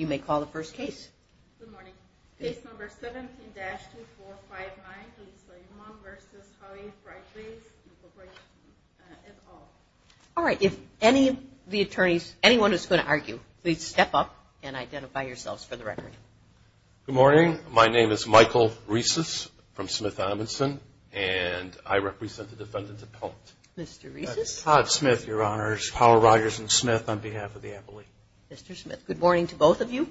at all. All right. If any of the attorneys, anyone who's going to argue, please step up and identify yourselves for the record. Good morning. My name is Michael Rhesus from Smith-Adamson, and I represent the defendant's appellant. Mr. Rhesus? Todd Smith, Your Honor. It's Powell Rogers and Smith on behalf of the appellate. Mr. Smith. Good morning to both of you.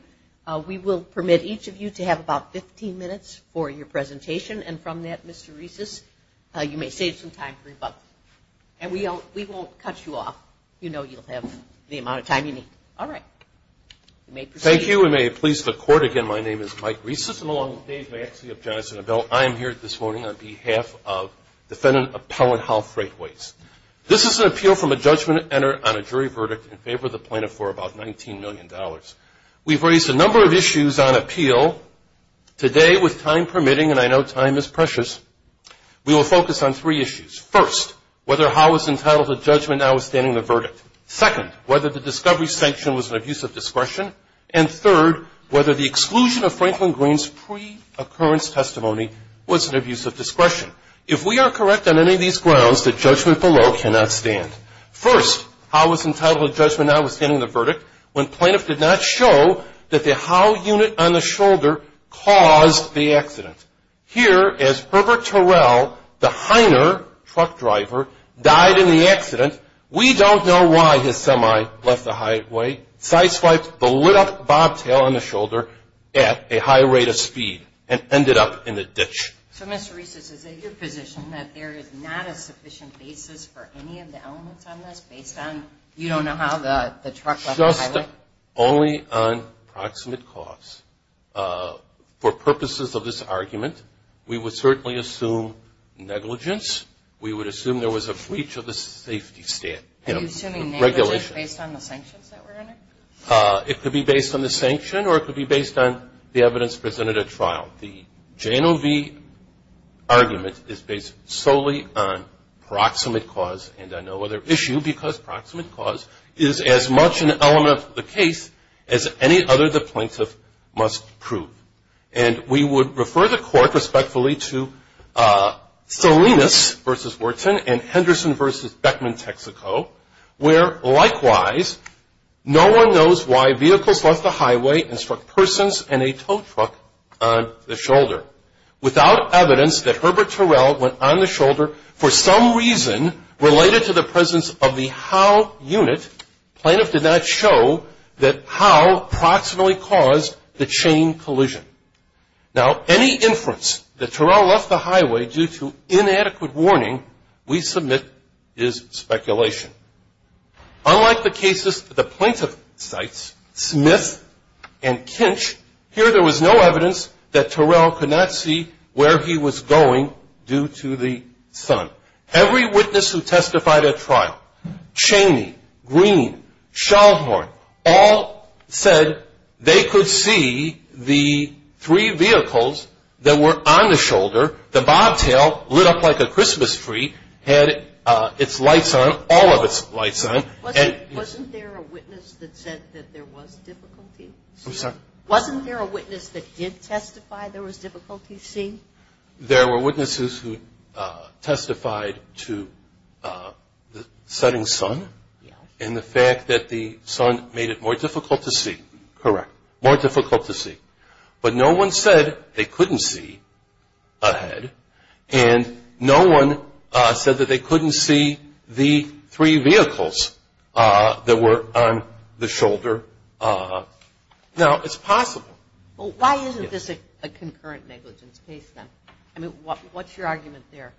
We will permit each of you to have about 15 minutes for your presentation, and from that, Mr. Rhesus, you may save some time for rebuttal. And we won't cut you off. You know you'll have the amount of time you need. All right. Thank you. We may please the judge and the bill. I am here this morning on behalf of defendant appellant Howe Freightways. This is an appeal from a judgment entered on a jury verdict in favor of the plaintiff for about $19 million. We've raised a number of issues on appeal. Today, with time permitting, and I know time is precious, we will focus on three issues. First, whether Howe was entitled to judgment notwithstanding the verdict. Second, whether the discovery discretion. And third, whether the exclusion of Franklin Greene's pre-occurrence testimony was an abuse of discretion. If we are correct on any of these grounds, the judgment below cannot stand. First, Howe was entitled to judgment notwithstanding the verdict when plaintiff did not show that the Howe unit on the shoulder caused the accident. Here, as Herbert Terrell, the Heiner truck driver, died in the accident, we don't know why his semi left the highway, side-swiped the lit-up bobtail on the shoulder at a high rate of speed and ended up in the ditch. So, Mr. Reese, is it your position that there is not a sufficient basis for any of the elements on this based on you don't know how the truck left the highway? Just only on proximate cause. For purposes of this argument, we would certainly assume negligence. We would assume there was a breach of the safety regulations. Are you assuming negligence based on the sanctions that were in it? It could be based on the sanction or it could be based on the evidence presented at trial. The J&OV argument is based solely on proximate cause and on no other issue because proximate cause is as much an element of the case as any other the plaintiff must prove. And we would refer the where, likewise, no one knows why vehicles left the highway and struck persons and a tow truck on the shoulder. Without evidence that Herbert Terrell went on the shoulder for some reason related to the presence of the how unit, plaintiff did not show that how proximately caused the chain Unlike the cases the plaintiff cites, Smith and Kinch, here there was no evidence that Terrell could not see where he was going due to the sun. Every witness who testified at trial, Chaney, Green, Schallhorn, all said they could see the three vehicles that were on the shoulder. The bobtail lit up like a Christmas tree, had its lights on, all of its lights on. Wasn't there a witness that said that there was difficulty? I'm sorry? Wasn't there a witness that did testify there was difficulty seeing? There were witnesses who testified to the setting sun and the fact that the sun made it more difficult to see. Correct. But no one said they couldn't see ahead and no one said that they couldn't see the three vehicles that were on the shoulder. Now, it's possible. Well, why isn't this a concurrent negligence case then? I mean, what's your argument there?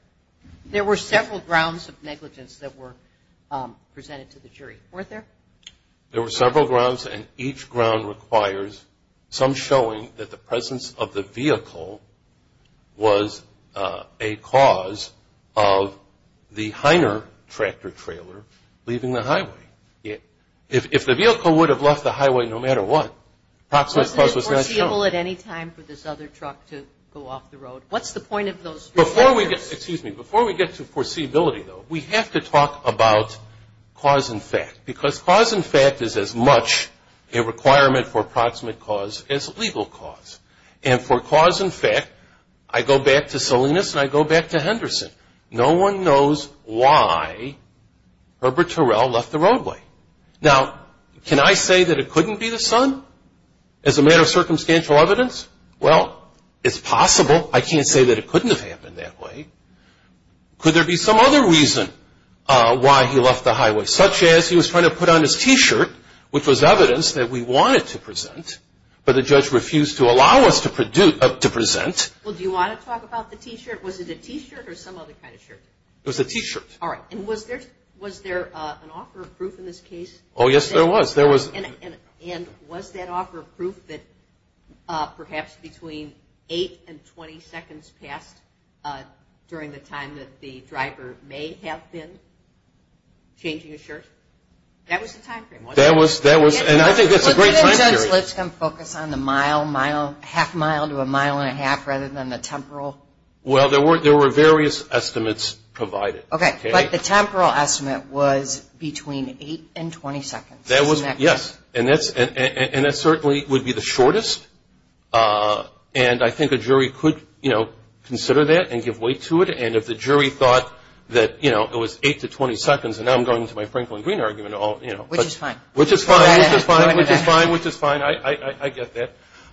There were several grounds of negligence that were presented to the jury, weren't there? There were several grounds and each ground requires some showing that the presence of the vehicle was a cause of the Heiner tractor-trailer leaving the highway. If the vehicle would have left the highway no matter what, Proximus Plus was not shown. Wasn't it foreseeable at any time for this other truck to go off the road? What's the point of those? Before we get to foreseeability, though, we have to talk about cause and fact because cause and fact is as much a requirement for proximate cause as legal cause. And for cause and fact, I go back to Salinas and I go back to Henderson. No one knows why Herbert Terrell left the roadway. Now, can I say that it couldn't be the sun as a matter of circumstantial evidence? Well, it's possible. I can't say that it couldn't have happened that way. Could there be some other reason why he left the highway? Such as he was trying to put on his T-shirt, which was evidence that we wanted to present, but the judge refused to allow us to present. Well, do you want to talk about the T-shirt? Was it a T-shirt or some other kind of shirt? It was a T-shirt. All right. And was there an offer of proof in this case? Oh, yes, there was. And was that offer of proof that perhaps between 8 and 20 seconds passed during the time that the driver may have been changing his shirt? That was the time frame, wasn't it? That was, and I think that's a great time period. But wouldn't Judge Lipscomb focus on the mile, half mile to a mile and a half rather than the temporal? Well, there were various estimates provided. Okay, but the temporal estimate was between 8 and 20 seconds. That was, yes. And that certainly would be the shortest. And I think a jury could, you know, consider that and give weight to it. And if the jury thought that, you know, it was 8 to 20 seconds, and now I'm going into my Franklin Green argument all, you know. Which is fine. Which is fine. Which is fine. Which is fine. I get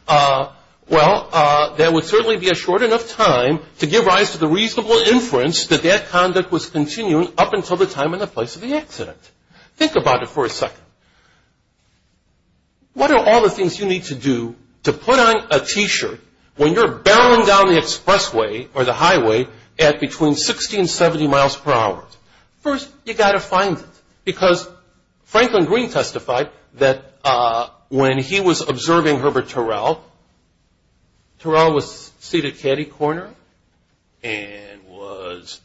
that. Well, there would certainly be a short enough time to give rise to the reasonable inference that that conduct was continuing up until the time and the place of the accident. Think about it for a second. What are all the things you need to do to put on a T-shirt when you're barreling down the expressway or the highway at between 60 and 70 miles per hour? First, you've got to find it. Because Franklin Green testified that when he was observing Herbert Turrell, Turrell was seated catty-corner and was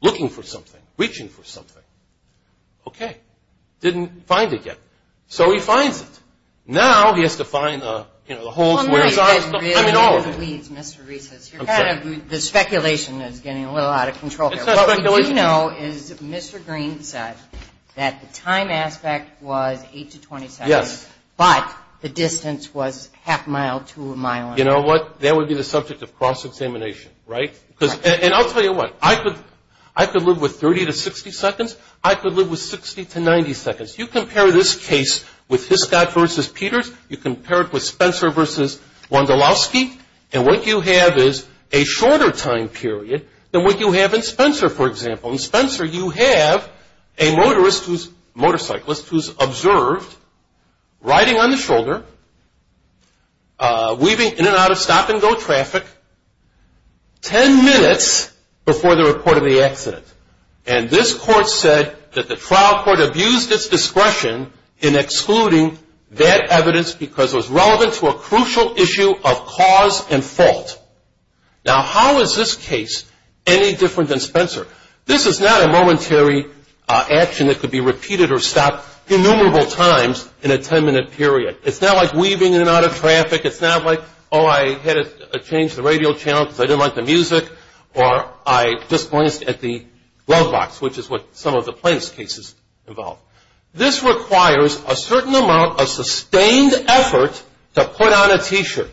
looking for something, reaching for something. Okay. Didn't find it yet. So he finds it. Now he has to find, you know, the holes where he saw it. I mean, all of it. Mr. Reese, the speculation is getting a little out of control here. What we do know is Mr. Green said that the time aspect was 8 to 20 seconds. Yes. But the distance was half a mile to a mile and a half. You know what? That would be the subject of cross-examination, right? And I'll tell you what. I could live with 30 to 60 seconds. I could live with 60 to 90 seconds. You compare this case with Hiscott versus Peters. You compare it with Spencer versus Wondolowski. And what you have is a shorter time period than what you have in Spencer, for example. In Spencer, you have a motorist who's a motorcyclist who's observed riding on the shoulder, weaving in and out of stop-and-go traffic 10 minutes before the report of the accident. And this court said that the trial court abused its discretion in excluding that evidence because it was relevant to a crucial issue of cause and fault. Now, how is this case any different than Spencer? This is not a momentary action that could be repeated or stopped innumerable times in a 10-minute period. It's not like weaving in and out of traffic. It's not like, oh, I had to change the radio channel because I didn't like the music or I just glanced at the glove box, which is what some of the plaintiff's cases involve. This requires a certain amount of sustained effort to put on a T-shirt.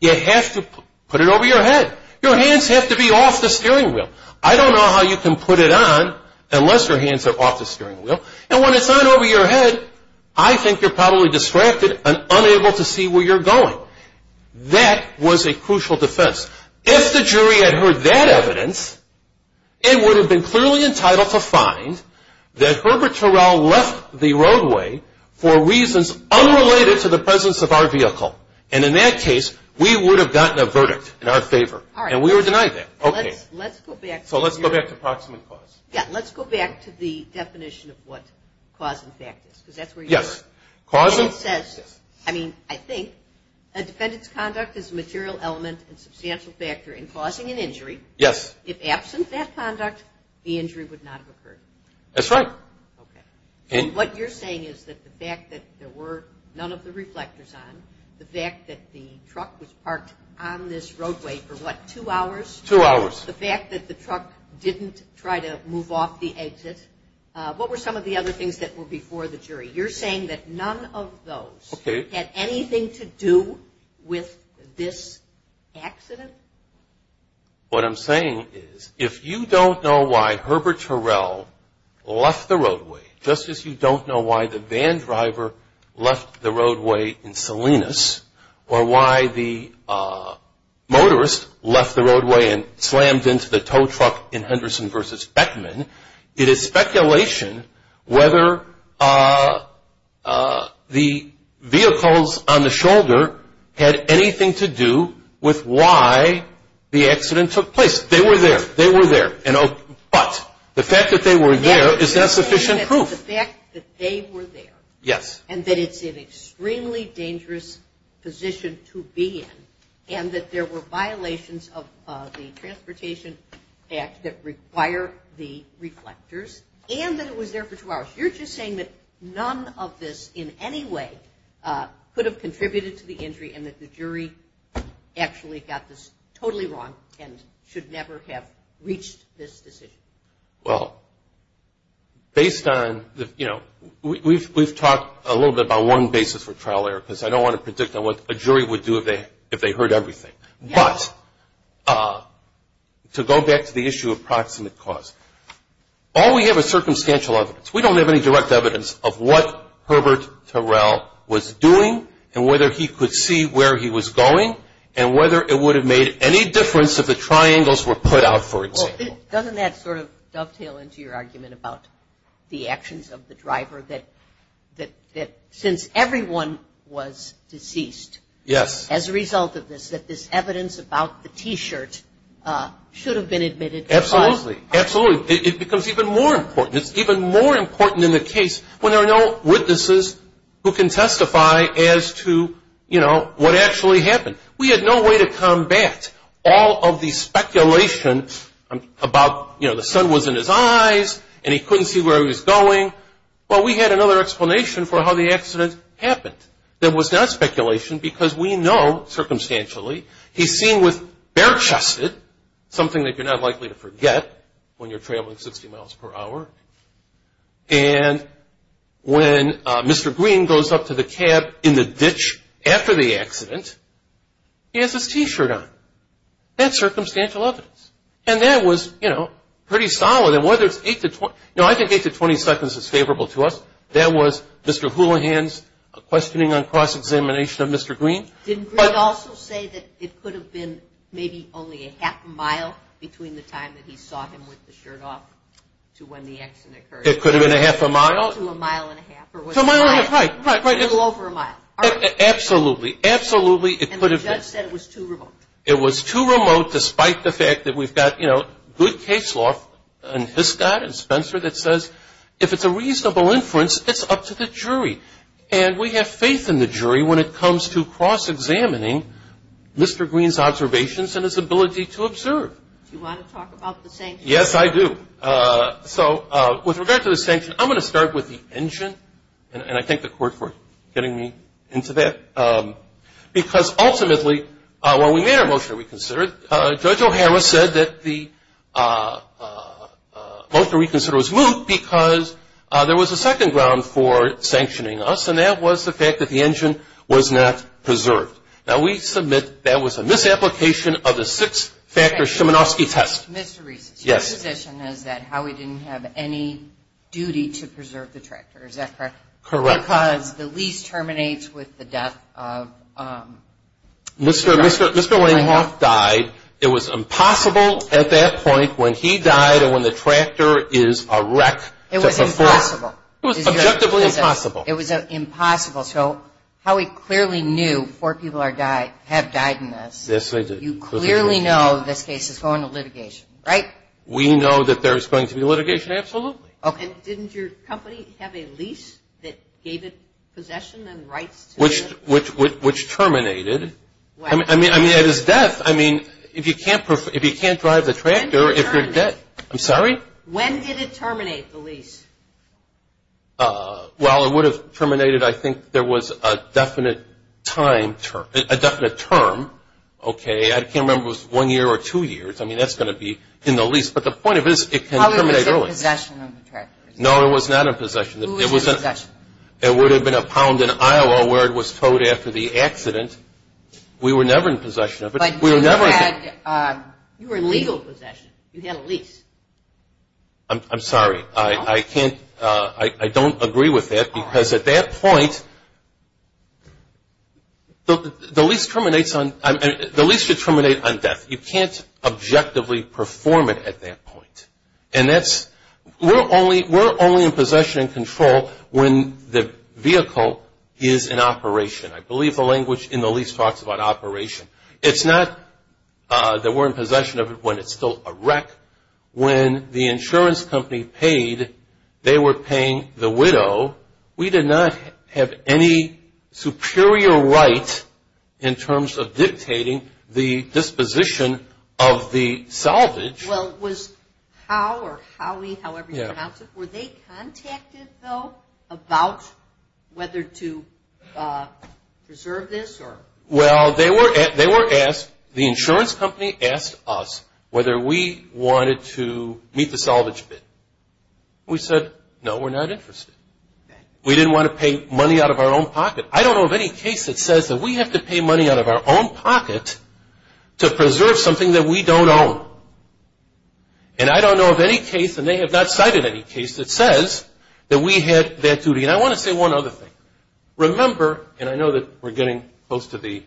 You have to put it over your head. Your hands have to be off the steering wheel. I don't know how you can put it on unless your hands are off the steering wheel. And when it's on over your head, I think you're probably distracted and unable to see where you're going. That was a crucial defense. If the jury had heard that evidence, it would have been clearly entitled to find that Herbert Turrell left the roadway for reasons unrelated to the presence of our vehicle. And in that case, we would have gotten a verdict in our favor, and we were denied that. Okay. So let's go back to proximate cause. Yeah, let's go back to the definition of what cause and effect is, because that's where you were. Yes. And it says, I mean, I think, a defendant's conduct is a material element and substantial factor in causing an injury. Yes. If absent that conduct, the injury would not have occurred. That's right. Okay. And what you're saying is that the fact that there were none of the reflectors on, the fact that the truck was parked on this roadway for, what, two hours? Two hours. The fact that the truck didn't try to move off the exit. What were some of the other things that were before the jury? You're saying that none of those had anything to do with this accident? What I'm saying is, if you don't know why Herbert Turrell left the roadway, just as you don't know why the van driver left the roadway in Salinas, or why the motorist left the roadway and slammed into the tow truck in Henderson v. Beckman, it is speculation whether the vehicles on the shoulder had anything to do with why the accident took place. They were there. They were there. But the fact that they were there is not sufficient proof. The fact that they were there. Yes. And that it's an extremely dangerous position to be in, and that there were violations of the Transportation Act that require the reflectors, and that it was there for two hours. You're just saying that none of this in any way could have contributed to the injury and that the jury actually got this totally wrong and should never have reached this decision. Well, based on, you know, we've talked a little bit about one basis for trial error because I don't want to predict on what a jury would do if they heard everything. But to go back to the issue of proximate cause, all we have is circumstantial evidence. We don't have any direct evidence of what Herbert Turrell was doing and whether he could see where he was going and whether it would have made any difference if the triangles were put out, for example. Doesn't that sort of dovetail into your argument about the actions of the driver, that since everyone was deceased as a result of this, that this evidence about the T-shirt should have been admitted to trial? Absolutely. Absolutely. It becomes even more important. It's even more important in the case when there are no witnesses who can testify as to, you know, what actually happened. We had no way to combat all of the speculation about, you know, the sun was in his eyes and he couldn't see where he was going. Well, we had another explanation for how the accident happened that was not speculation because we know circumstantially he's seen with bare chested, something that you're not likely to forget when you're traveling 60 miles per hour, and when Mr. Green goes up to the cab in the ditch after the accident, he has his T-shirt on. That's circumstantial evidence. And that was, you know, pretty solid. And whether it's 8 to 20, you know, I think 8 to 20 seconds is favorable to us. That was Mr. Houlihan's questioning on cross-examination of Mr. Green. Didn't Greg also say that it could have been maybe only a half a mile between the time that he saw him with the shirt off to when the accident occurred? It could have been a half a mile. To a mile and a half. To a mile and a half, right, right, right. A little over a mile. Absolutely, absolutely. And the judge said it was too remote. It was too remote despite the fact that we've got, you know, good case law and Hiscott and Spencer that says if it's a reasonable inference, it's up to the jury. And we have faith in the jury when it comes to cross-examining Mr. Green's observations and his ability to observe. Do you want to talk about the sanctions? Yes, I do. So with regard to the sanctions, I'm going to start with the engine, and I thank the Court for getting me into that. Because ultimately, when we made our motion to reconsider, Judge O'Hara said that the motion to reconsider was moot because there was a second ground for sanctioning us, and that was the fact that the engine was not preserved. Now, we submit that was a misapplication of the six-factor Szymanowski test. Mr. Reese. Yes. Your position is that Howie didn't have any duty to preserve the tractor, is that correct? Correct. Because the lease terminates with the death of the tractor. Mr. Lanehoff died. It was impossible at that point when he died and when the tractor is a wreck to perform. It was impossible. It was objectively impossible. It was impossible. So Howie clearly knew four people have died in this. Yes, I did. You clearly know this case is going to litigation, right? We know that there is going to be litigation, absolutely. Okay. Didn't your company have a lease that gave it possession and rights to it? Which terminated. I mean, it is death. I mean, if you can't drive the tractor, if you're dead. When did it terminate? I'm sorry? When did it terminate, the lease? Well, it would have terminated I think there was a definite time term, a definite term. Okay. I can't remember if it was one year or two years. I mean, that's going to be in the lease. But the point of it is it can terminate early. Howie was in possession of the tractor. No, it was not in possession. Who was in possession of it? It would have been a pound in Iowa where it was towed after the accident. We were never in possession of it. But you were in legal possession. You had a lease. I'm sorry. I can't – I don't agree with that because at that point the lease terminates on – the lease should terminate on death. You can't objectively perform it at that point. And that's – we're only in possession and control when the vehicle is in operation. I believe the language in the lease talks about operation. It's not that we're in possession of it when it's still a wreck. When the insurance company paid, they were paying the widow. We did not have any superior right in terms of dictating the disposition of the salvage. Well, was Howie or Howie, however you pronounce it, were they contacted, though, about whether to preserve this? Well, they were asked – the insurance company asked us whether we wanted to meet the salvage bid. We said, no, we're not interested. We didn't want to pay money out of our own pocket. I don't know of any case that says that we have to pay money out of our own pocket to preserve something that we don't own. And I don't know of any case, and they have not cited any case, that says that we had that duty. And I want to say one other thing. Remember – and I know that we're getting close to the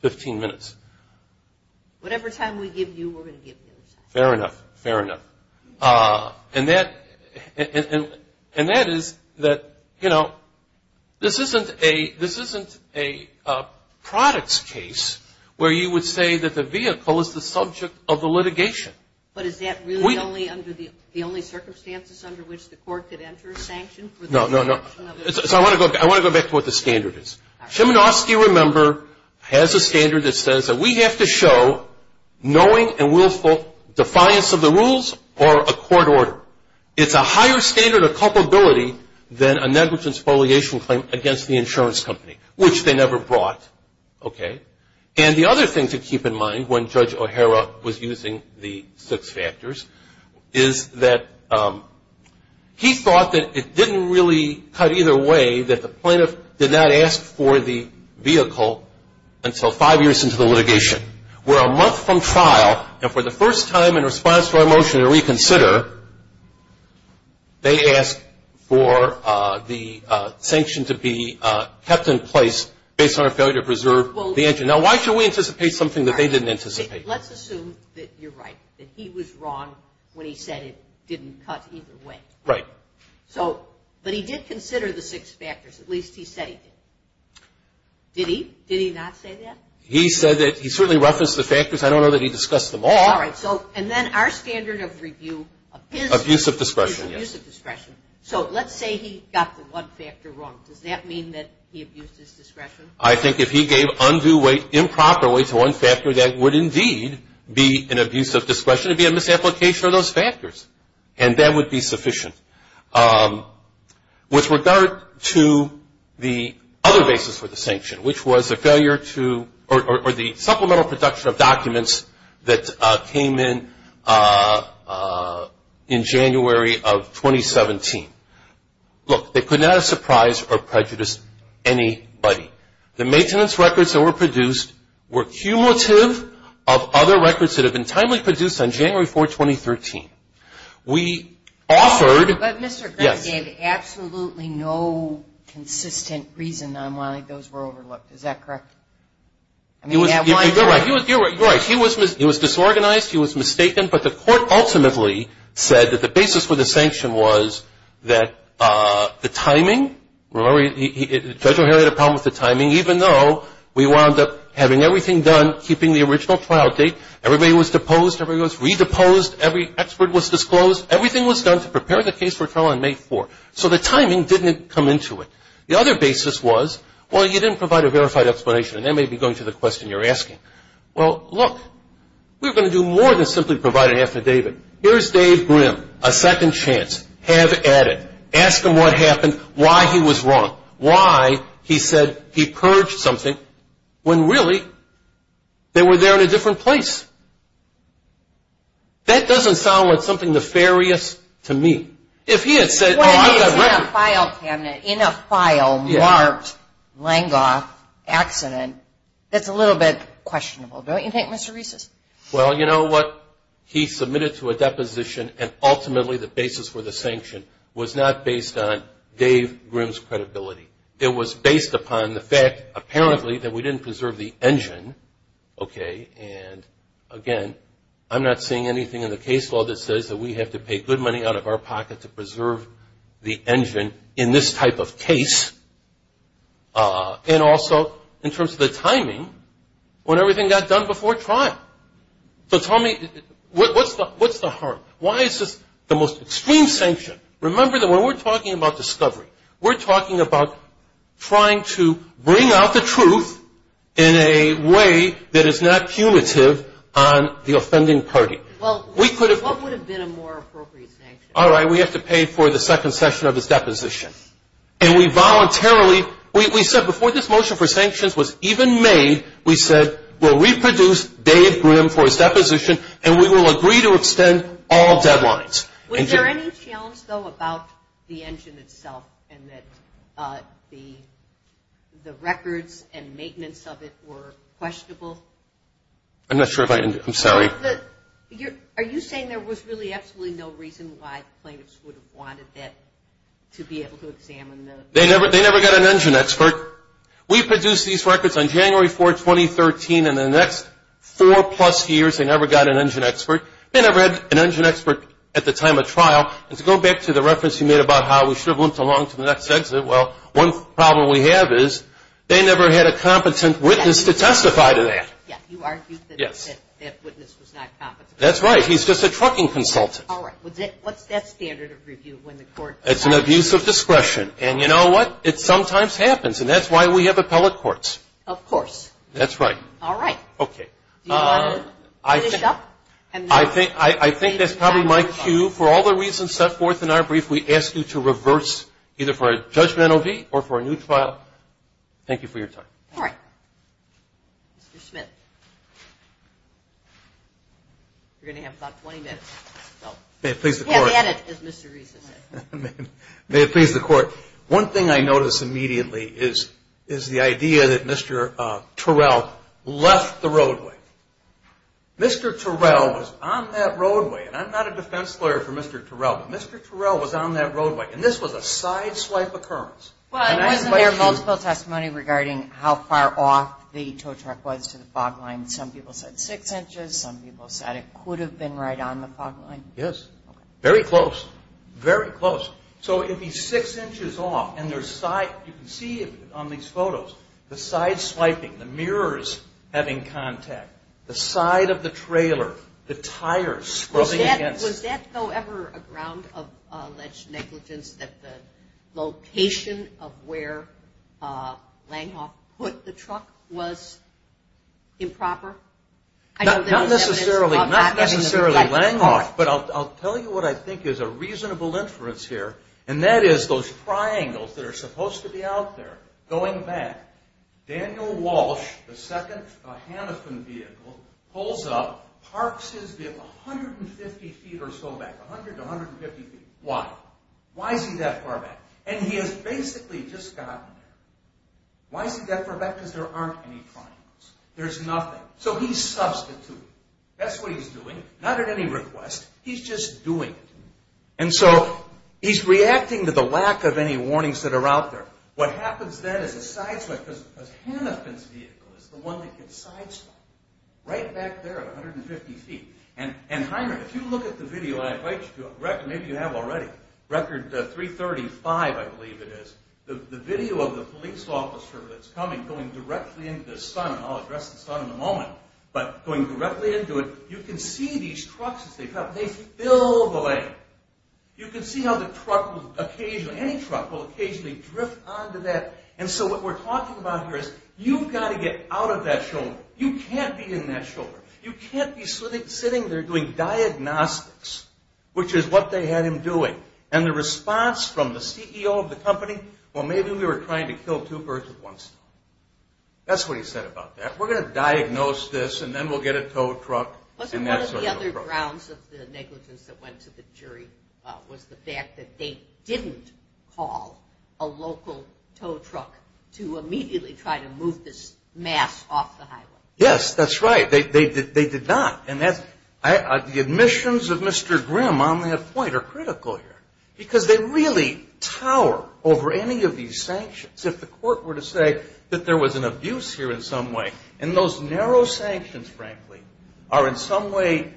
15 minutes. Whatever time we give you, we're going to give you. Fair enough. Fair enough. And that is that, you know, this isn't a products case where you would say that the vehicle is the subject of the litigation. But is that really the only circumstances under which the court could enter a sanction? No, no, no. So I want to go back to what the standard is. Cheminofsky, remember, has a standard that says that we have to show knowing and willful defiance of the rules or a court order. It's a higher standard of culpability than a negligence foliation claim against the insurance company, which they never brought. Okay? And the other thing to keep in mind when Judge O'Hara was using the six factors is that he thought that it didn't really cut either way, that the plaintiff did not ask for the vehicle until five years into the litigation. We're a month from trial, and for the first time in response to our motion to reconsider, they asked for the sanction to be kept in place based on our failure to preserve the engine. Now, why should we anticipate something that they didn't anticipate? Let's assume that you're right, that he was wrong when he said it didn't cut either way. Right. So, but he did consider the six factors. At least he said he did. Did he? Did he not say that? He said that he certainly referenced the factors. I don't know that he discussed them all. All right. So, and then our standard of review of his abuse of discretion. Yes. So let's say he got the one factor wrong. Does that mean that he abused his discretion? I think if he gave undue weight improperly to one factor, that would indeed be an abuse of discretion. It shouldn't be a misapplication of those factors, and that would be sufficient. With regard to the other basis for the sanction, which was the failure to or the supplemental production of documents that came in in January of 2017. Look, they could not have surprised or prejudiced anybody. The maintenance records that were produced were cumulative of other records that have been timely produced on January 4, 2013. We offered. But Mr. Green gave absolutely no consistent reason on why those were overlooked. Is that correct? You're right. You're right. He was disorganized. He was mistaken. But the court ultimately said that the basis for the sanction was that the timing. Remember, Judge O'Hara had a problem with the timing. Even though we wound up having everything done, keeping the original trial date, everybody was deposed, everybody was re-deposed, every expert was disclosed, everything was done to prepare the case for trial on May 4. So the timing didn't come into it. The other basis was, well, you didn't provide a verified explanation, and that may be going to the question you're asking. Well, look, we're going to do more than simply provide an affidavit. Here's Dave Grimm, a second chance, have at it. Ask him what happened, why he was wrong, why he said he purged something, when really they were there in a different place. That doesn't sound like something nefarious to me. If he had said, well, I've got records. In a file marked Langlois accident, that's a little bit questionable, don't you think, Mr. Reeses? Well, you know what, he submitted to a deposition, and ultimately the basis for the sanction was not based on Dave Grimm's credibility. It was based upon the fact, apparently, that we didn't preserve the engine, okay? And, again, I'm not seeing anything in the case law that says that we have to pay good money out of our pocket to preserve the engine in this type of case. And also in terms of the timing, when everything got done before trial. So tell me, what's the harm? Why is this the most extreme sanction? Remember that when we're talking about discovery, we're talking about trying to bring out the truth in a way that is not cumulative on the offending party. Well, what would have been a more appropriate sanction? All right, we have to pay for the second session of his deposition. And we voluntarily, we said before this motion for sanctions was even made, we said we'll reproduce Dave Grimm for his deposition, and we will agree to extend all deadlines. Was there any challenge, though, about the engine itself and that the records and maintenance of it were questionable? I'm not sure if I, I'm sorry. Are you saying there was really absolutely no reason why plaintiffs would have wanted that to be able to examine the? They never got an engine expert. We produced these records on January 4, 2013, and in the next four plus years, they never got an engine expert. They never had an engine expert at the time of trial. And to go back to the reference you made about how we should have limped along to the next exit, well, one problem we have is they never had a competent witness to testify to that. Yeah, you argued that that witness was not competent. That's right. He's just a trucking consultant. All right. What's that standard of review when the court? It's an abuse of discretion. And you know what? It sometimes happens, and that's why we have appellate courts. Of course. That's right. All right. Okay. Do you want to finish up? I think that's probably my cue. For all the reasons set forth in our brief, we ask you to reverse either for a judgmental or for a neutral. Thank you for your time. All right. Mr. Smith, you're going to have about 20 minutes. May it please the Court. May it please the Court. One thing I notice immediately is the idea that Mr. Terrell left the roadway. Mr. Terrell was on that roadway, and I'm not a defense lawyer for Mr. Terrell, but Mr. Terrell was on that roadway, and this was a sideswipe occurrence. Wasn't there multiple testimony regarding how far off the tow truck was to the fog line? Some people said six inches. Some people said it could have been right on the fog line. Yes. Very close. Very close. So it would be six inches off, and you can see on these photos the sideswiping, the mirrors having contact, the side of the trailer, the tires scrubbing against it. Was that, however, a ground of alleged negligence, that the location of where Langhoff put the truck was improper? Not necessarily Langhoff, but I'll tell you what I think is a reasonable inference here, and that is those triangles that are supposed to be out there going back. Daniel Walsh, the second Hanifin vehicle, pulls up, parks his vehicle 150 feet or so back, 100 to 150 feet. Why? Why is he that far back? And he has basically just gotten there. Why is he that far back? Because there aren't any triangles. There's nothing. So he's substituting. That's what he's doing. Not at any request. He's just doing it. And so he's reacting to the lack of any warnings that are out there. What happens then is a sideswipe, because Hanifin's vehicle is the one that gets sideswiped, right back there at 150 feet. And, Heinrich, if you look at the video I invite you to, maybe you have already, record 335, I believe it is, the video of the police officer that's coming, going directly into the sun, and I'll address the sun in a moment, but going directly into it, you can see these trucks as they fill the lane. You can see how the truck will occasionally, any truck will occasionally drift onto that. And so what we're talking about here is you've got to get out of that shoulder. You can't be in that shoulder. You can't be sitting there doing diagnostics, which is what they had him doing. And the response from the CEO of the company, well, maybe we were trying to kill two birds with one stone. That's what he said about that. We're going to diagnose this, and then we'll get a tow truck. Wasn't one of the other grounds of the negligence that went to the jury was the fact that they didn't call a local tow truck to immediately try to move this mass off the highway? Yes, that's right. They did not. And the admissions of Mr. Grimm on that point are critical here, because they really tower over any of these sanctions. So if the court were to say that there was an abuse here in some way, and those narrow sanctions, frankly, are in some way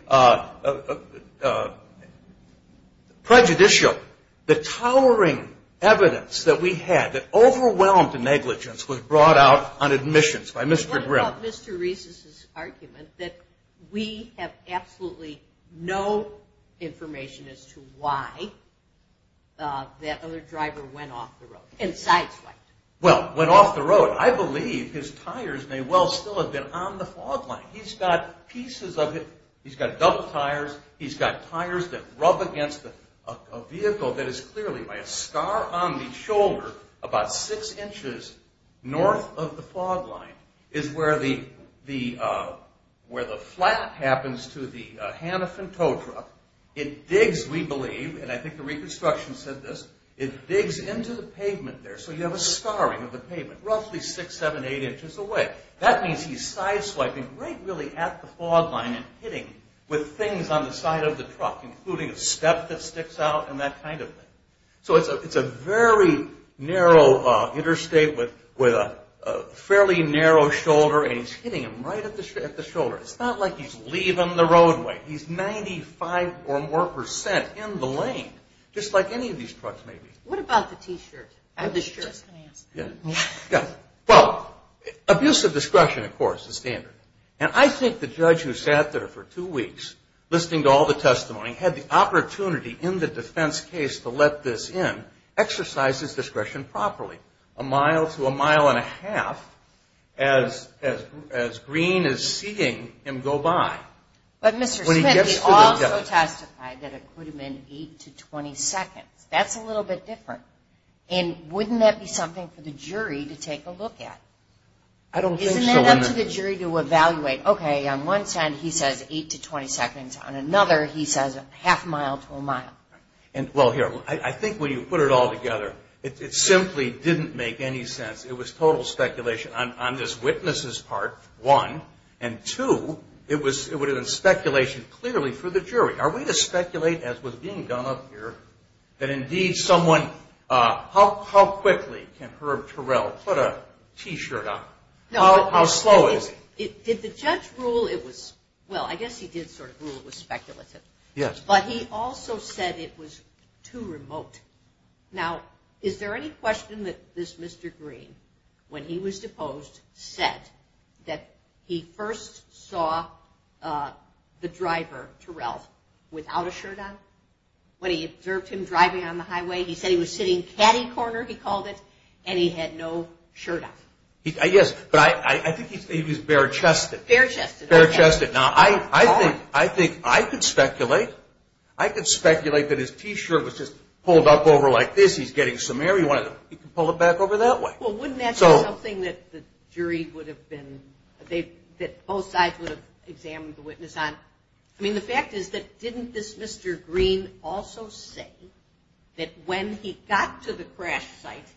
prejudicial, the towering evidence that we had that overwhelmed the negligence was brought out on admissions by Mr. Grimm. What about Mr. Reese's argument that we have absolutely no information as to why that other driver went off the road, and sideswiped? Well, went off the road. I believe his tires may well still have been on the fog line. He's got pieces of it. He's got double tires. He's got tires that rub against a vehicle that is clearly by a scar on the shoulder about six inches north of the fog line, is where the flat happens to the Hanifin tow truck. It digs, we believe, and I think the reconstruction said this, it digs into the pavement there. So you have a scarring of the pavement roughly six, seven, eight inches away. That means he's sideswiping right really at the fog line and hitting with things on the side of the truck, including a step that sticks out and that kind of thing. So it's a very narrow interstate with a fairly narrow shoulder, and he's hitting him right at the shoulder. It's not like he's leaving the roadway. He's 95 or more percent in the lane, just like any of these trucks may be. What about the T-shirt? Well, abuse of discretion, of course, is standard, and I think the judge who sat there for two weeks listening to all the testimony had the opportunity in the defense case to let this in, exercise his discretion properly. A mile to a mile and a half as Green is seeing him go by. But Mr. Smith, he also testified that it could have been eight to 20 seconds. That's a little bit different, and wouldn't that be something for the jury to take a look at? Isn't that up to the jury to evaluate? Okay, on one side he says eight to 20 seconds, on another he says half a mile to a mile. Well, here, I think when you put it all together, it simply didn't make any sense. It was total speculation. On this witness's part, one, and two, it would have been speculation clearly for the jury. Are we to speculate, as was being done up here, that indeed someone – how quickly can Herb Terrell put a T-shirt on? How slow is it? Did the judge rule it was – well, I guess he did sort of rule it was speculative. Yes. But he also said it was too remote. Now, is there any question that this Mr. Green, when he was deposed, said that he first saw the driver, Terrell, without a shirt on? When he observed him driving on the highway, he said he was sitting catty-corner, he called it, and he had no shirt on. Yes, but I think he was bare-chested. Bare-chested, okay. Bare-chested. Now, I think I could speculate. I could speculate that his T-shirt was just pulled up over like this. He's getting some air. He can pull it back over that way. Well, wouldn't that be something that the jury would have been – that both sides would have examined the witness on? I mean, the fact is that didn't this Mr. Green also say that when he got to the crash site,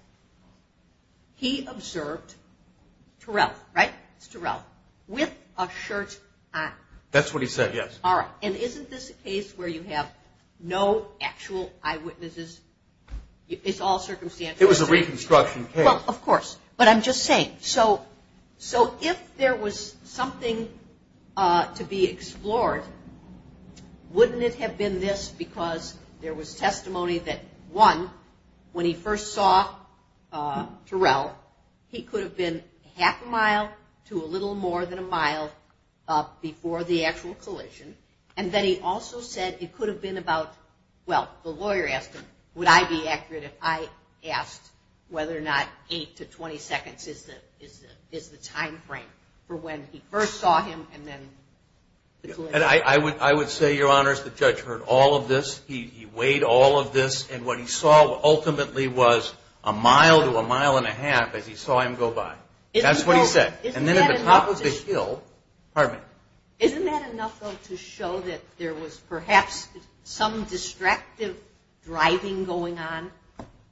he observed Terrell, right? It's Terrell, with a shirt on. That's what he said, yes. All right. And isn't this a case where you have no actual eyewitnesses? It's all circumstantial. It was a reconstruction case. Well, of course. But I'm just saying. So if there was something to be explored, wouldn't it have been this? Because there was testimony that, one, when he first saw Terrell, he could have been half a mile to a little more than a mile up before the actual collision. And then he also said it could have been about – well, the lawyer asked him, would I be accurate if I asked whether or not 8 to 20 seconds is the timeframe for when he first saw him and then the collision. And I would say, Your Honors, the judge heard all of this. He weighed all of this. And what he saw ultimately was a mile to a mile and a half as he saw him go by. That's what he said. And then at the top of the hill – pardon me. Isn't that enough, though, to show that there was perhaps some distractive driving going on?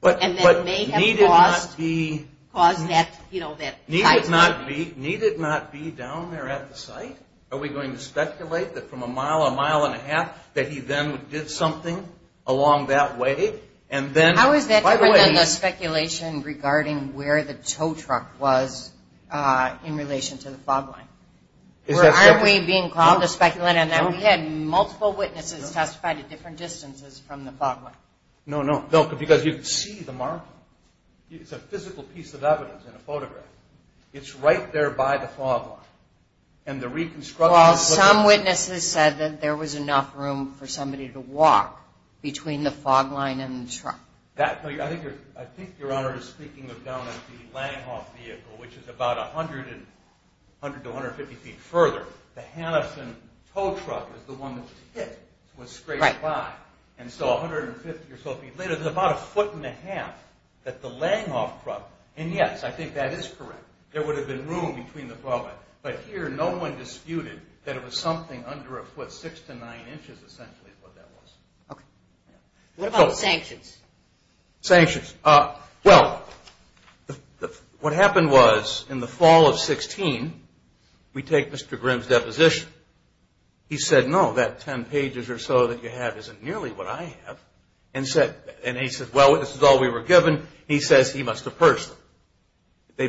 But need it not be down there at the site? Are we going to speculate that from a mile, a mile and a half, that he then did something along that way? How is that different than the speculation regarding where the tow truck was in relation to the fog line? Aren't we being called to speculate on that? We had multiple witnesses testify to different distances from the fog line. No, no, because you can see the marker. It's a physical piece of evidence in a photograph. It's right there by the fog line. Well, some witnesses said that there was enough room for somebody to walk between the fog line and the truck. I think Your Honor is speaking of down at the Langhoff vehicle, which is about 100 to 150 feet further. The Hannesen tow truck is the one that was hit. It was straight by. And so 150 or so feet later, there's about a foot and a half at the Langhoff truck. And, yes, I think that is correct. There would have been room between the fog line. But here no one disputed that it was something under a foot, six to nine inches essentially is what that was. Okay. What about sanctions? Sanctions. Well, what happened was in the fall of 2016, we take Mr. Grimm's deposition. He said, no, that 10 pages or so that you have isn't nearly what I have. And he said, well, this is all we were given. He says he must have purged them.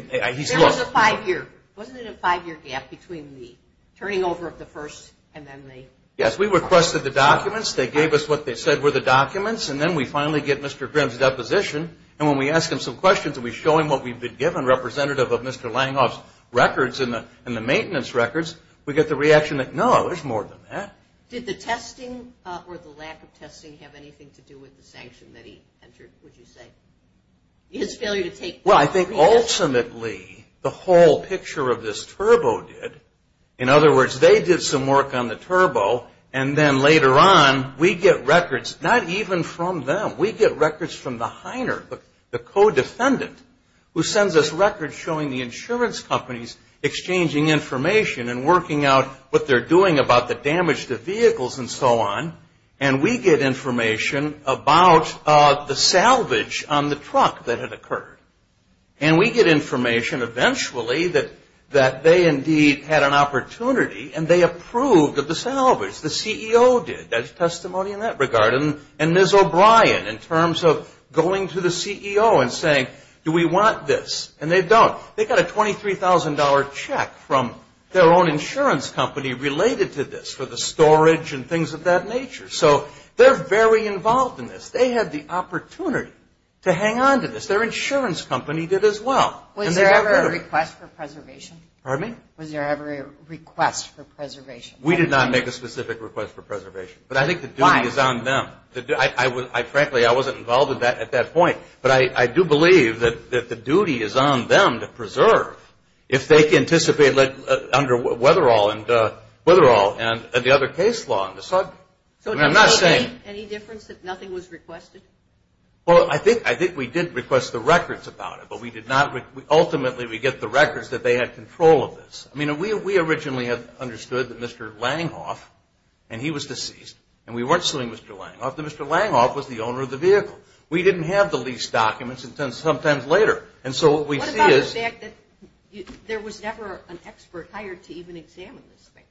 There was a five-year. Wasn't it a five-year gap between the turning over of the first and then the? Yes. We requested the documents. They gave us what they said were the documents. And then we finally get Mr. Grimm's deposition. And when we ask him some questions and we show him what we've been given, representative of Mr. Langhoff's records and the maintenance records, we get the reaction that, no, there's more than that. Did the testing or the lack of testing have anything to do with the sanction that he entered, would you say? His failure to take part. Well, I think ultimately the whole picture of this turbo did. In other words, they did some work on the turbo, and then later on, we get records not even from them. We get records from the Heiner, the co-defendant, who sends us records showing the insurance companies exchanging information and working out what they're doing about the damage to vehicles and so on. And we get information about the salvage on the truck that had occurred. And we get information eventually that they indeed had an opportunity and they approved of the salvage. The CEO did. There's testimony in that regard. And Ms. O'Brien, in terms of going to the CEO and saying, do we want this? And they don't. They got a $23,000 check from their own insurance company related to this for the storage and things of that nature. So they're very involved in this. They had the opportunity to hang on to this. Their insurance company did as well. Was there ever a request for preservation? Pardon me? Was there ever a request for preservation? We did not make a specific request for preservation. Why? But I think the duty is on them. Frankly, I wasn't involved at that point. But I do believe that the duty is on them to preserve. If they can anticipate under Wetherall and the other case law. I'm not saying. Any difference that nothing was requested? Well, I think we did request the records about it, but ultimately we get the records that they had control of this. I mean, we originally understood that Mr. Langhoff, and he was deceased, and we weren't suing Mr. Langhoff, that Mr. Langhoff was the owner of the vehicle. We didn't have the lease documents until sometimes later. And so what we see is. What about the fact that there was never an expert hired to even examine this thing?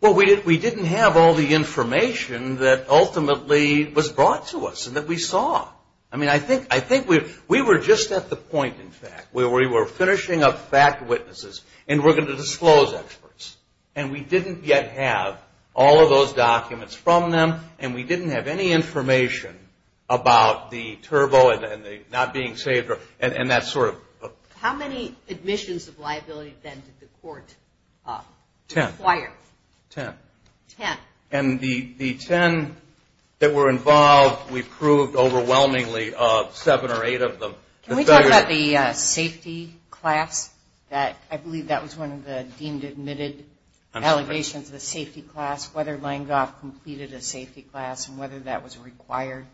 Well, we didn't have all the information that ultimately was brought to us and that we saw. I mean, I think we were just at the point, in fact, where we were finishing up fact witnesses and we're going to disclose experts. And we didn't yet have all of those documents from them, and we didn't have any information about the turbo and the not being saved and that sort of thing. How many admissions of liability, then, did the court require? Ten. Ten. Ten. And the ten that were involved, we proved overwhelmingly of seven or eight of them. Can we talk about the safety class? I believe that was one of the deemed admitted allegations, the safety class, whether Langhoff completed a safety class and whether that was required.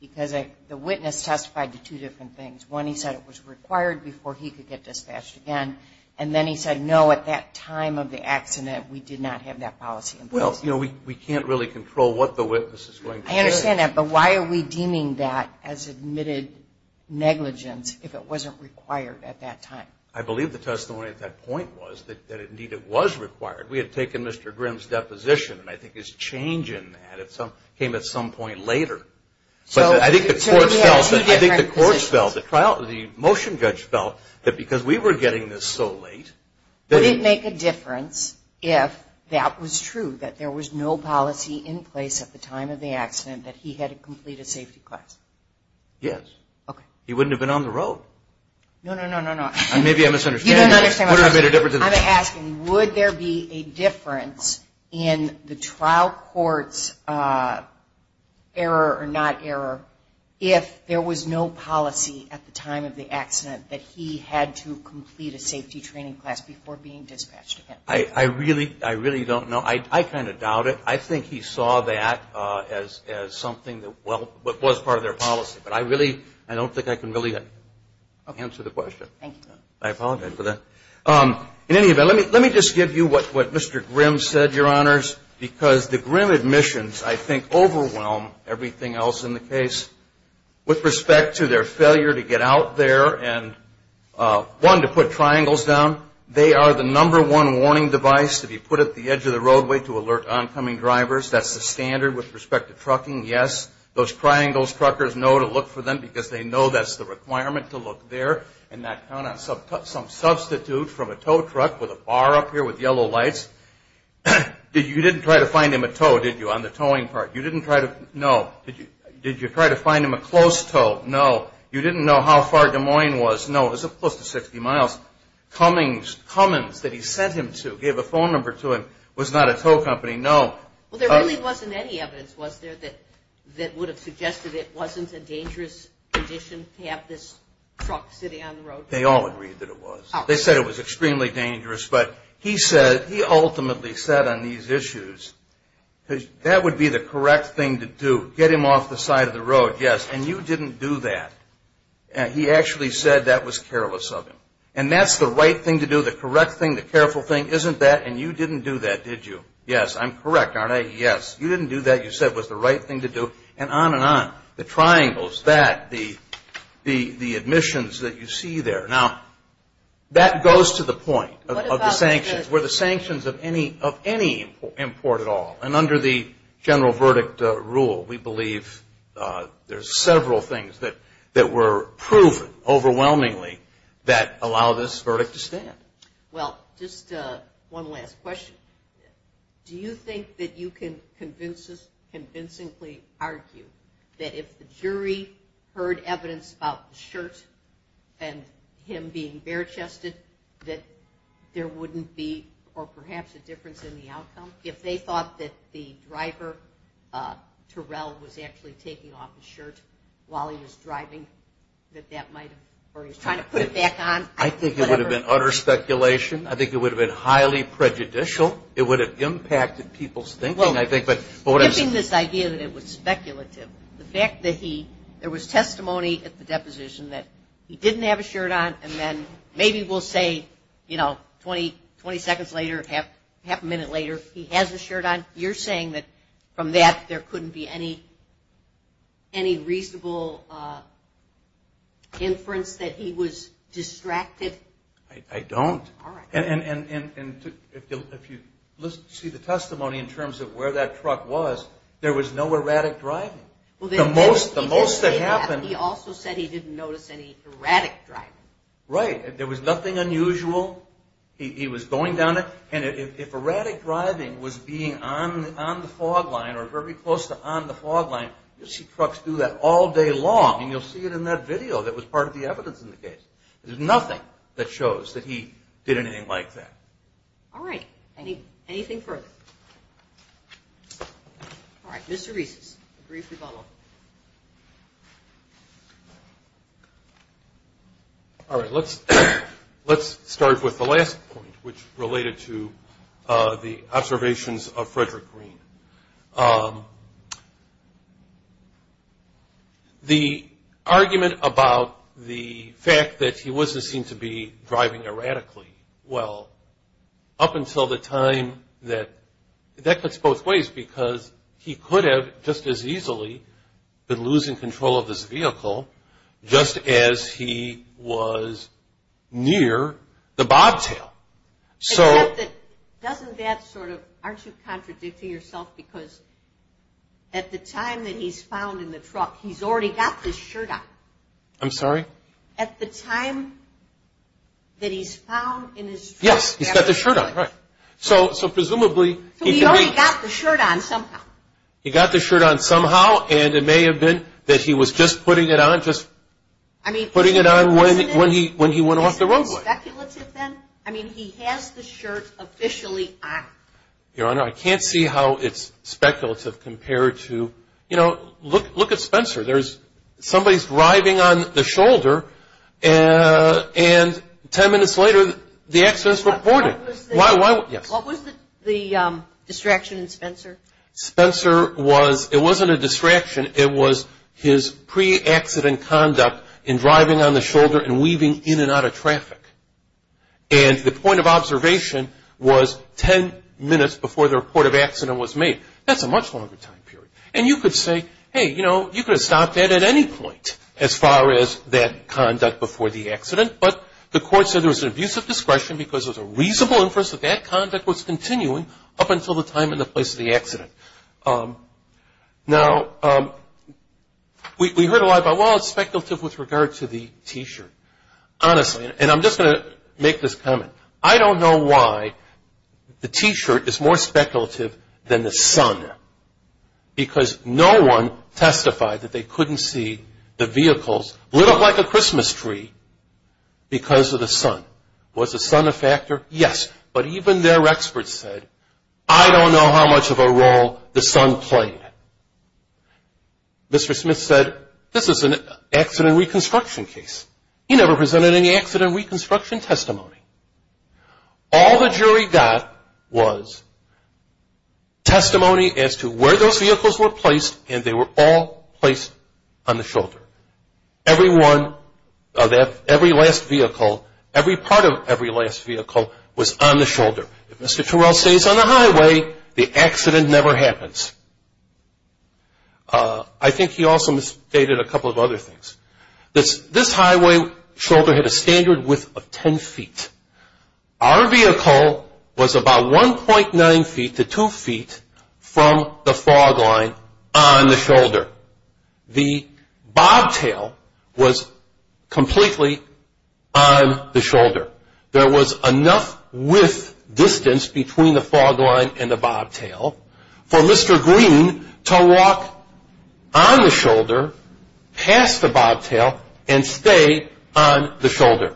Because the witness testified to two different things. One, he said it was required before he could get dispatched again. And then he said, no, at that time of the accident, we did not have that policy in place. Well, you know, we can't really control what the witness is going to say. I understand that. But why are we deeming that as admitted negligence if it wasn't required at that time? I believe the testimony at that point was that, indeed, it was required. We had taken Mr. Grimm's deposition, and I think his change in that came at some point later. But I think the court felt, the motion judge felt that because we were getting this so late. Would it make a difference if that was true, that there was no policy in place at the time of the accident that he had to complete a safety class? Yes. Okay. He wouldn't have been on the road. No, no, no, no, no. Maybe I'm misunderstanding. You don't understand. I'm asking, would there be a difference in the trial court's error or not error if there was no policy at the time of the accident that he had to complete a safety training class before being dispatched again? I really don't know. I kind of doubt it. I think he saw that as something that was part of their policy. But I don't think I can really answer the question. Thank you. I apologize for that. In any event, let me just give you what Mr. Grimm said, Your Honors, because the Grimm admissions, I think, overwhelm everything else in the case with respect to their failure to get out there and, one, to put triangles down. They are the number one warning device to be put at the edge of the roadway to alert oncoming drivers. That's the standard with respect to trucking. Yes, those triangles truckers know to look for them because they know that's the requirement to look there. And not count on some substitute from a tow truck with a bar up here with yellow lights. You didn't try to find him a tow, did you, on the towing part? You didn't try to? No. Did you try to find him a close tow? No. You didn't know how far Des Moines was? No. It was close to 60 miles. Cummings, Cummins that he sent him to, gave a phone number to him, was not a tow company. No. Well, there really wasn't any evidence, was there, that would have suggested it wasn't a dangerous condition to have this truck sitting on the road? They all agreed that it was. They said it was extremely dangerous. But he ultimately said on these issues, that would be the correct thing to do, get him off the side of the road. Yes. And you didn't do that. He actually said that was careless of him. And that's the right thing to do, the correct thing, the careful thing, isn't that? And you didn't do that, did you? Yes. I'm correct, aren't I? Yes. You didn't do that. You said it was the right thing to do, and on and on. The triangles, that, the admissions that you see there. Now, that goes to the point of the sanctions. Were the sanctions of any import at all? And under the general verdict rule, we believe there's several things that were proven overwhelmingly that allow this verdict to stand. Well, just one last question. Do you think that you can convincingly argue that if the jury heard evidence about the shirt and him being bare-chested, that there wouldn't be, or perhaps a difference in the outcome? If they thought that the driver, Terrell, was actually taking off his shirt while he was driving, that that might have, or he was trying to put it back on. I think it would have been utter speculation. I think it would have been highly prejudicial. It would have impacted people's thinking, I think. Well, giving this idea that it was speculative, the fact that he, there was testimony at the deposition that he didn't have a shirt on, and then maybe we'll say, you know, 20 seconds later, half a minute later, he has a shirt on. You're saying that from that, there couldn't be any reasonable inference that he was distracted? I don't. All right. And if you see the testimony in terms of where that truck was, there was no erratic driving. The most that happened. He also said he didn't notice any erratic driving. Right. There was nothing unusual. He was going down it. And if erratic driving was being on the fog line or very close to on the fog line, you'll see trucks do that all day long, and you'll see it in that video that was part of the evidence in the case. There's nothing that shows that he did anything like that. All right. Anything further? All right. Mr. Reese, a brief rebuttal. All right. Let's start with the last point, which related to the observations of Frederick Green. The argument about the fact that he wasn't seen to be driving erratically, well, up until the time that that puts both ways, because he could have just as easily been losing control of his vehicle just as he was near the bobtail. Except that, doesn't that sort of, aren't you contradicting yourself, because at the time that he's found in the truck, he's already got this shirt on. I'm sorry? At the time that he's found in his truck. Yes, he's got the shirt on. Right. So presumably, he can be. So he already got the shirt on somehow. He got the shirt on somehow, and it may have been that he was just putting it on, just putting it on when he went off the road. Is that speculative then? I mean, he has the shirt officially on. Your Honor, I can't see how it's speculative compared to, you know, look at Spencer. Somebody's driving on the shoulder, and 10 minutes later, the accident's reported. What was the distraction in Spencer? Spencer was, it wasn't a distraction. It was his pre-accident conduct in driving on the shoulder and weaving in and out of traffic. And the point of observation was 10 minutes before the report of accident was made. That's a much longer time period. And you could say, hey, you know, you could have stopped that at any point as far as that conduct before the accident. But the court said there was an abuse of discretion because there was a reasonable interest that that conduct was continuing up until the time and the place of the accident. Now, we heard a lot about, well, it's speculative with regard to the T-shirt, honestly. And I'm just going to make this comment. I don't know why the T-shirt is more speculative than the sun, because no one testified that they couldn't see the vehicles lit up like a Christmas tree because of the sun. Was the sun a factor? Yes. But even their experts said, I don't know how much of a role the sun played. Mr. Smith said, this is an accident reconstruction case. He never presented any accident reconstruction testimony. All the jury got was testimony as to where those vehicles were placed and they were all placed on the shoulder. Every last vehicle, every part of every last vehicle was on the shoulder. If Mr. Turrell stays on the highway, the accident never happens. I think he also misstated a couple of other things. This highway shoulder had a standard width of 10 feet. Our vehicle was about 1.9 feet to 2 feet from the fog line on the shoulder. The bobtail was completely on the shoulder. There was enough width distance between the fog line and the bobtail for Mr. Green to walk on the shoulder, past the bobtail, and stay on the shoulder.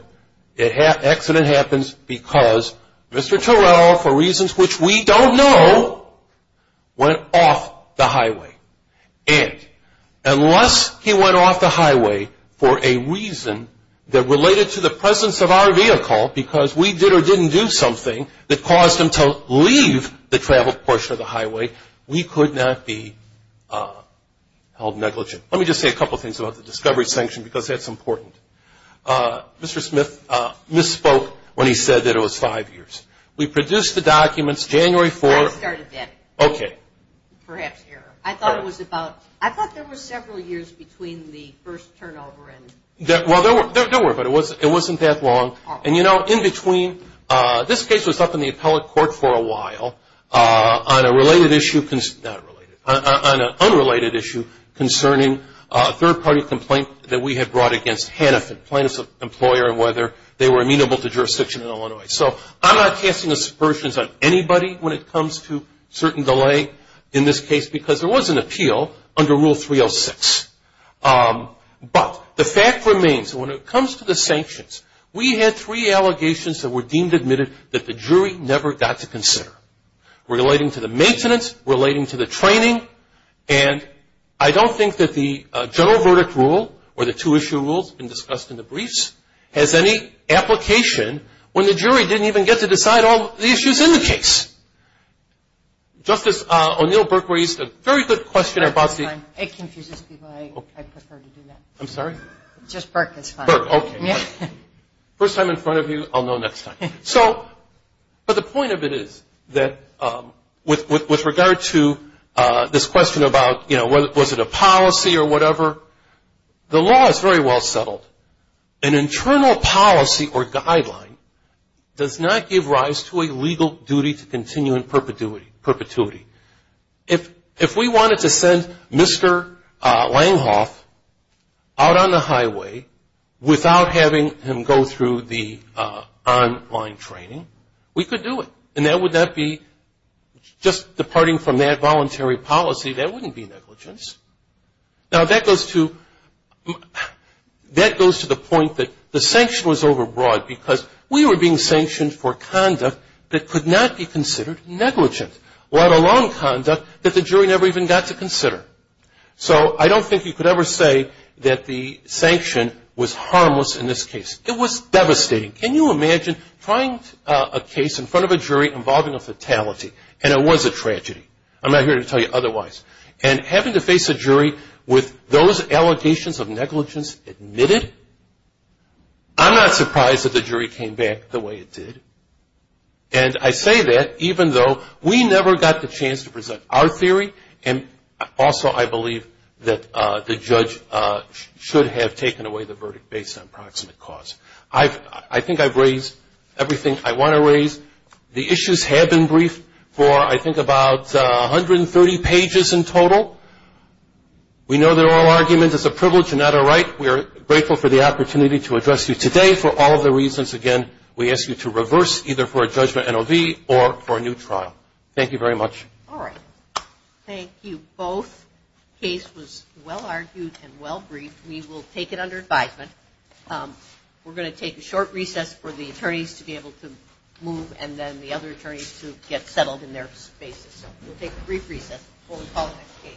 The accident happens because Mr. Turrell, for reasons which we don't know, went off the highway. And unless he went off the highway for a reason that related to the presence of our vehicle, because we did or didn't do something that caused him to leave the traveled portion of the highway, we could not be held negligent. Let me just say a couple of things about the discovery sanction because that's important. Mr. Smith misspoke when he said that it was five years. We produced the documents January 4th. I started then. Okay. Perhaps error. I thought it was about – I thought there were several years between the first turnover and – Well, there were, but it wasn't that long. And, you know, in between – this case was up in the appellate court for a while on a related issue – not related – on an unrelated issue concerning a third-party complaint that we had brought against Hanifin, plaintiff's employer, and whether they were amenable to jurisdiction in Illinois. So I'm not casting aspersions on anybody when it comes to certain delay in this case because there was an appeal under Rule 306. But the fact remains, when it comes to the sanctions, we had three allegations that were deemed admitted that the jury never got to consider, relating to the maintenance, relating to the training, and I don't think that the general verdict rule or the two-issue rules discussed in the briefs has any application when the jury didn't even get to decide all the issues in the case. Justice O'Neill Burke raised a very good question about the – That's fine. It confuses people. I prefer to do that. I'm sorry? Just Burke is fine. Burke. Okay. First time in front of you, I'll know next time. So – but the point of it is that with regard to this question about, you know, was it a policy or whatever, the law is very well settled. An internal policy or guideline does not give rise to a legal duty to continue in perpetuity. If we wanted to send Mr. Langhoff out on the highway without having him go through the online training, we could do it. And that would not be just departing from that voluntary policy. That wouldn't be negligence. Now, that goes to – that goes to the point that the sanction was overbroad because we were being sanctioned for conduct that could not be considered negligent, let alone conduct that the jury never even got to consider. So I don't think you could ever say that the sanction was harmless in this case. It was devastating. Can you imagine trying a case in front of a jury involving a fatality? And it was a tragedy. I'm not here to tell you otherwise. And having to face a jury with those allegations of negligence admitted, I'm not surprised that the jury came back the way it did. And I say that even though we never got the chance to present our theory, and also I believe that the judge should have taken away the verdict based on proximate cause. I think I've raised everything I want to raise. The issues have been briefed for I think about 130 pages in total. We know they're all arguments. It's a privilege and not a right. We are grateful for the opportunity to address you today for all the reasons, again, we ask you to reverse either for a judgment NOV or for a new trial. Thank you very much. All right. Thank you both. The case was well-argued and well-briefed. We will take it under advisement. We're going to take a short recess for the attorneys to be able to move and then the other attorneys to get settled in their spaces. So we'll take a brief recess before we call the next case.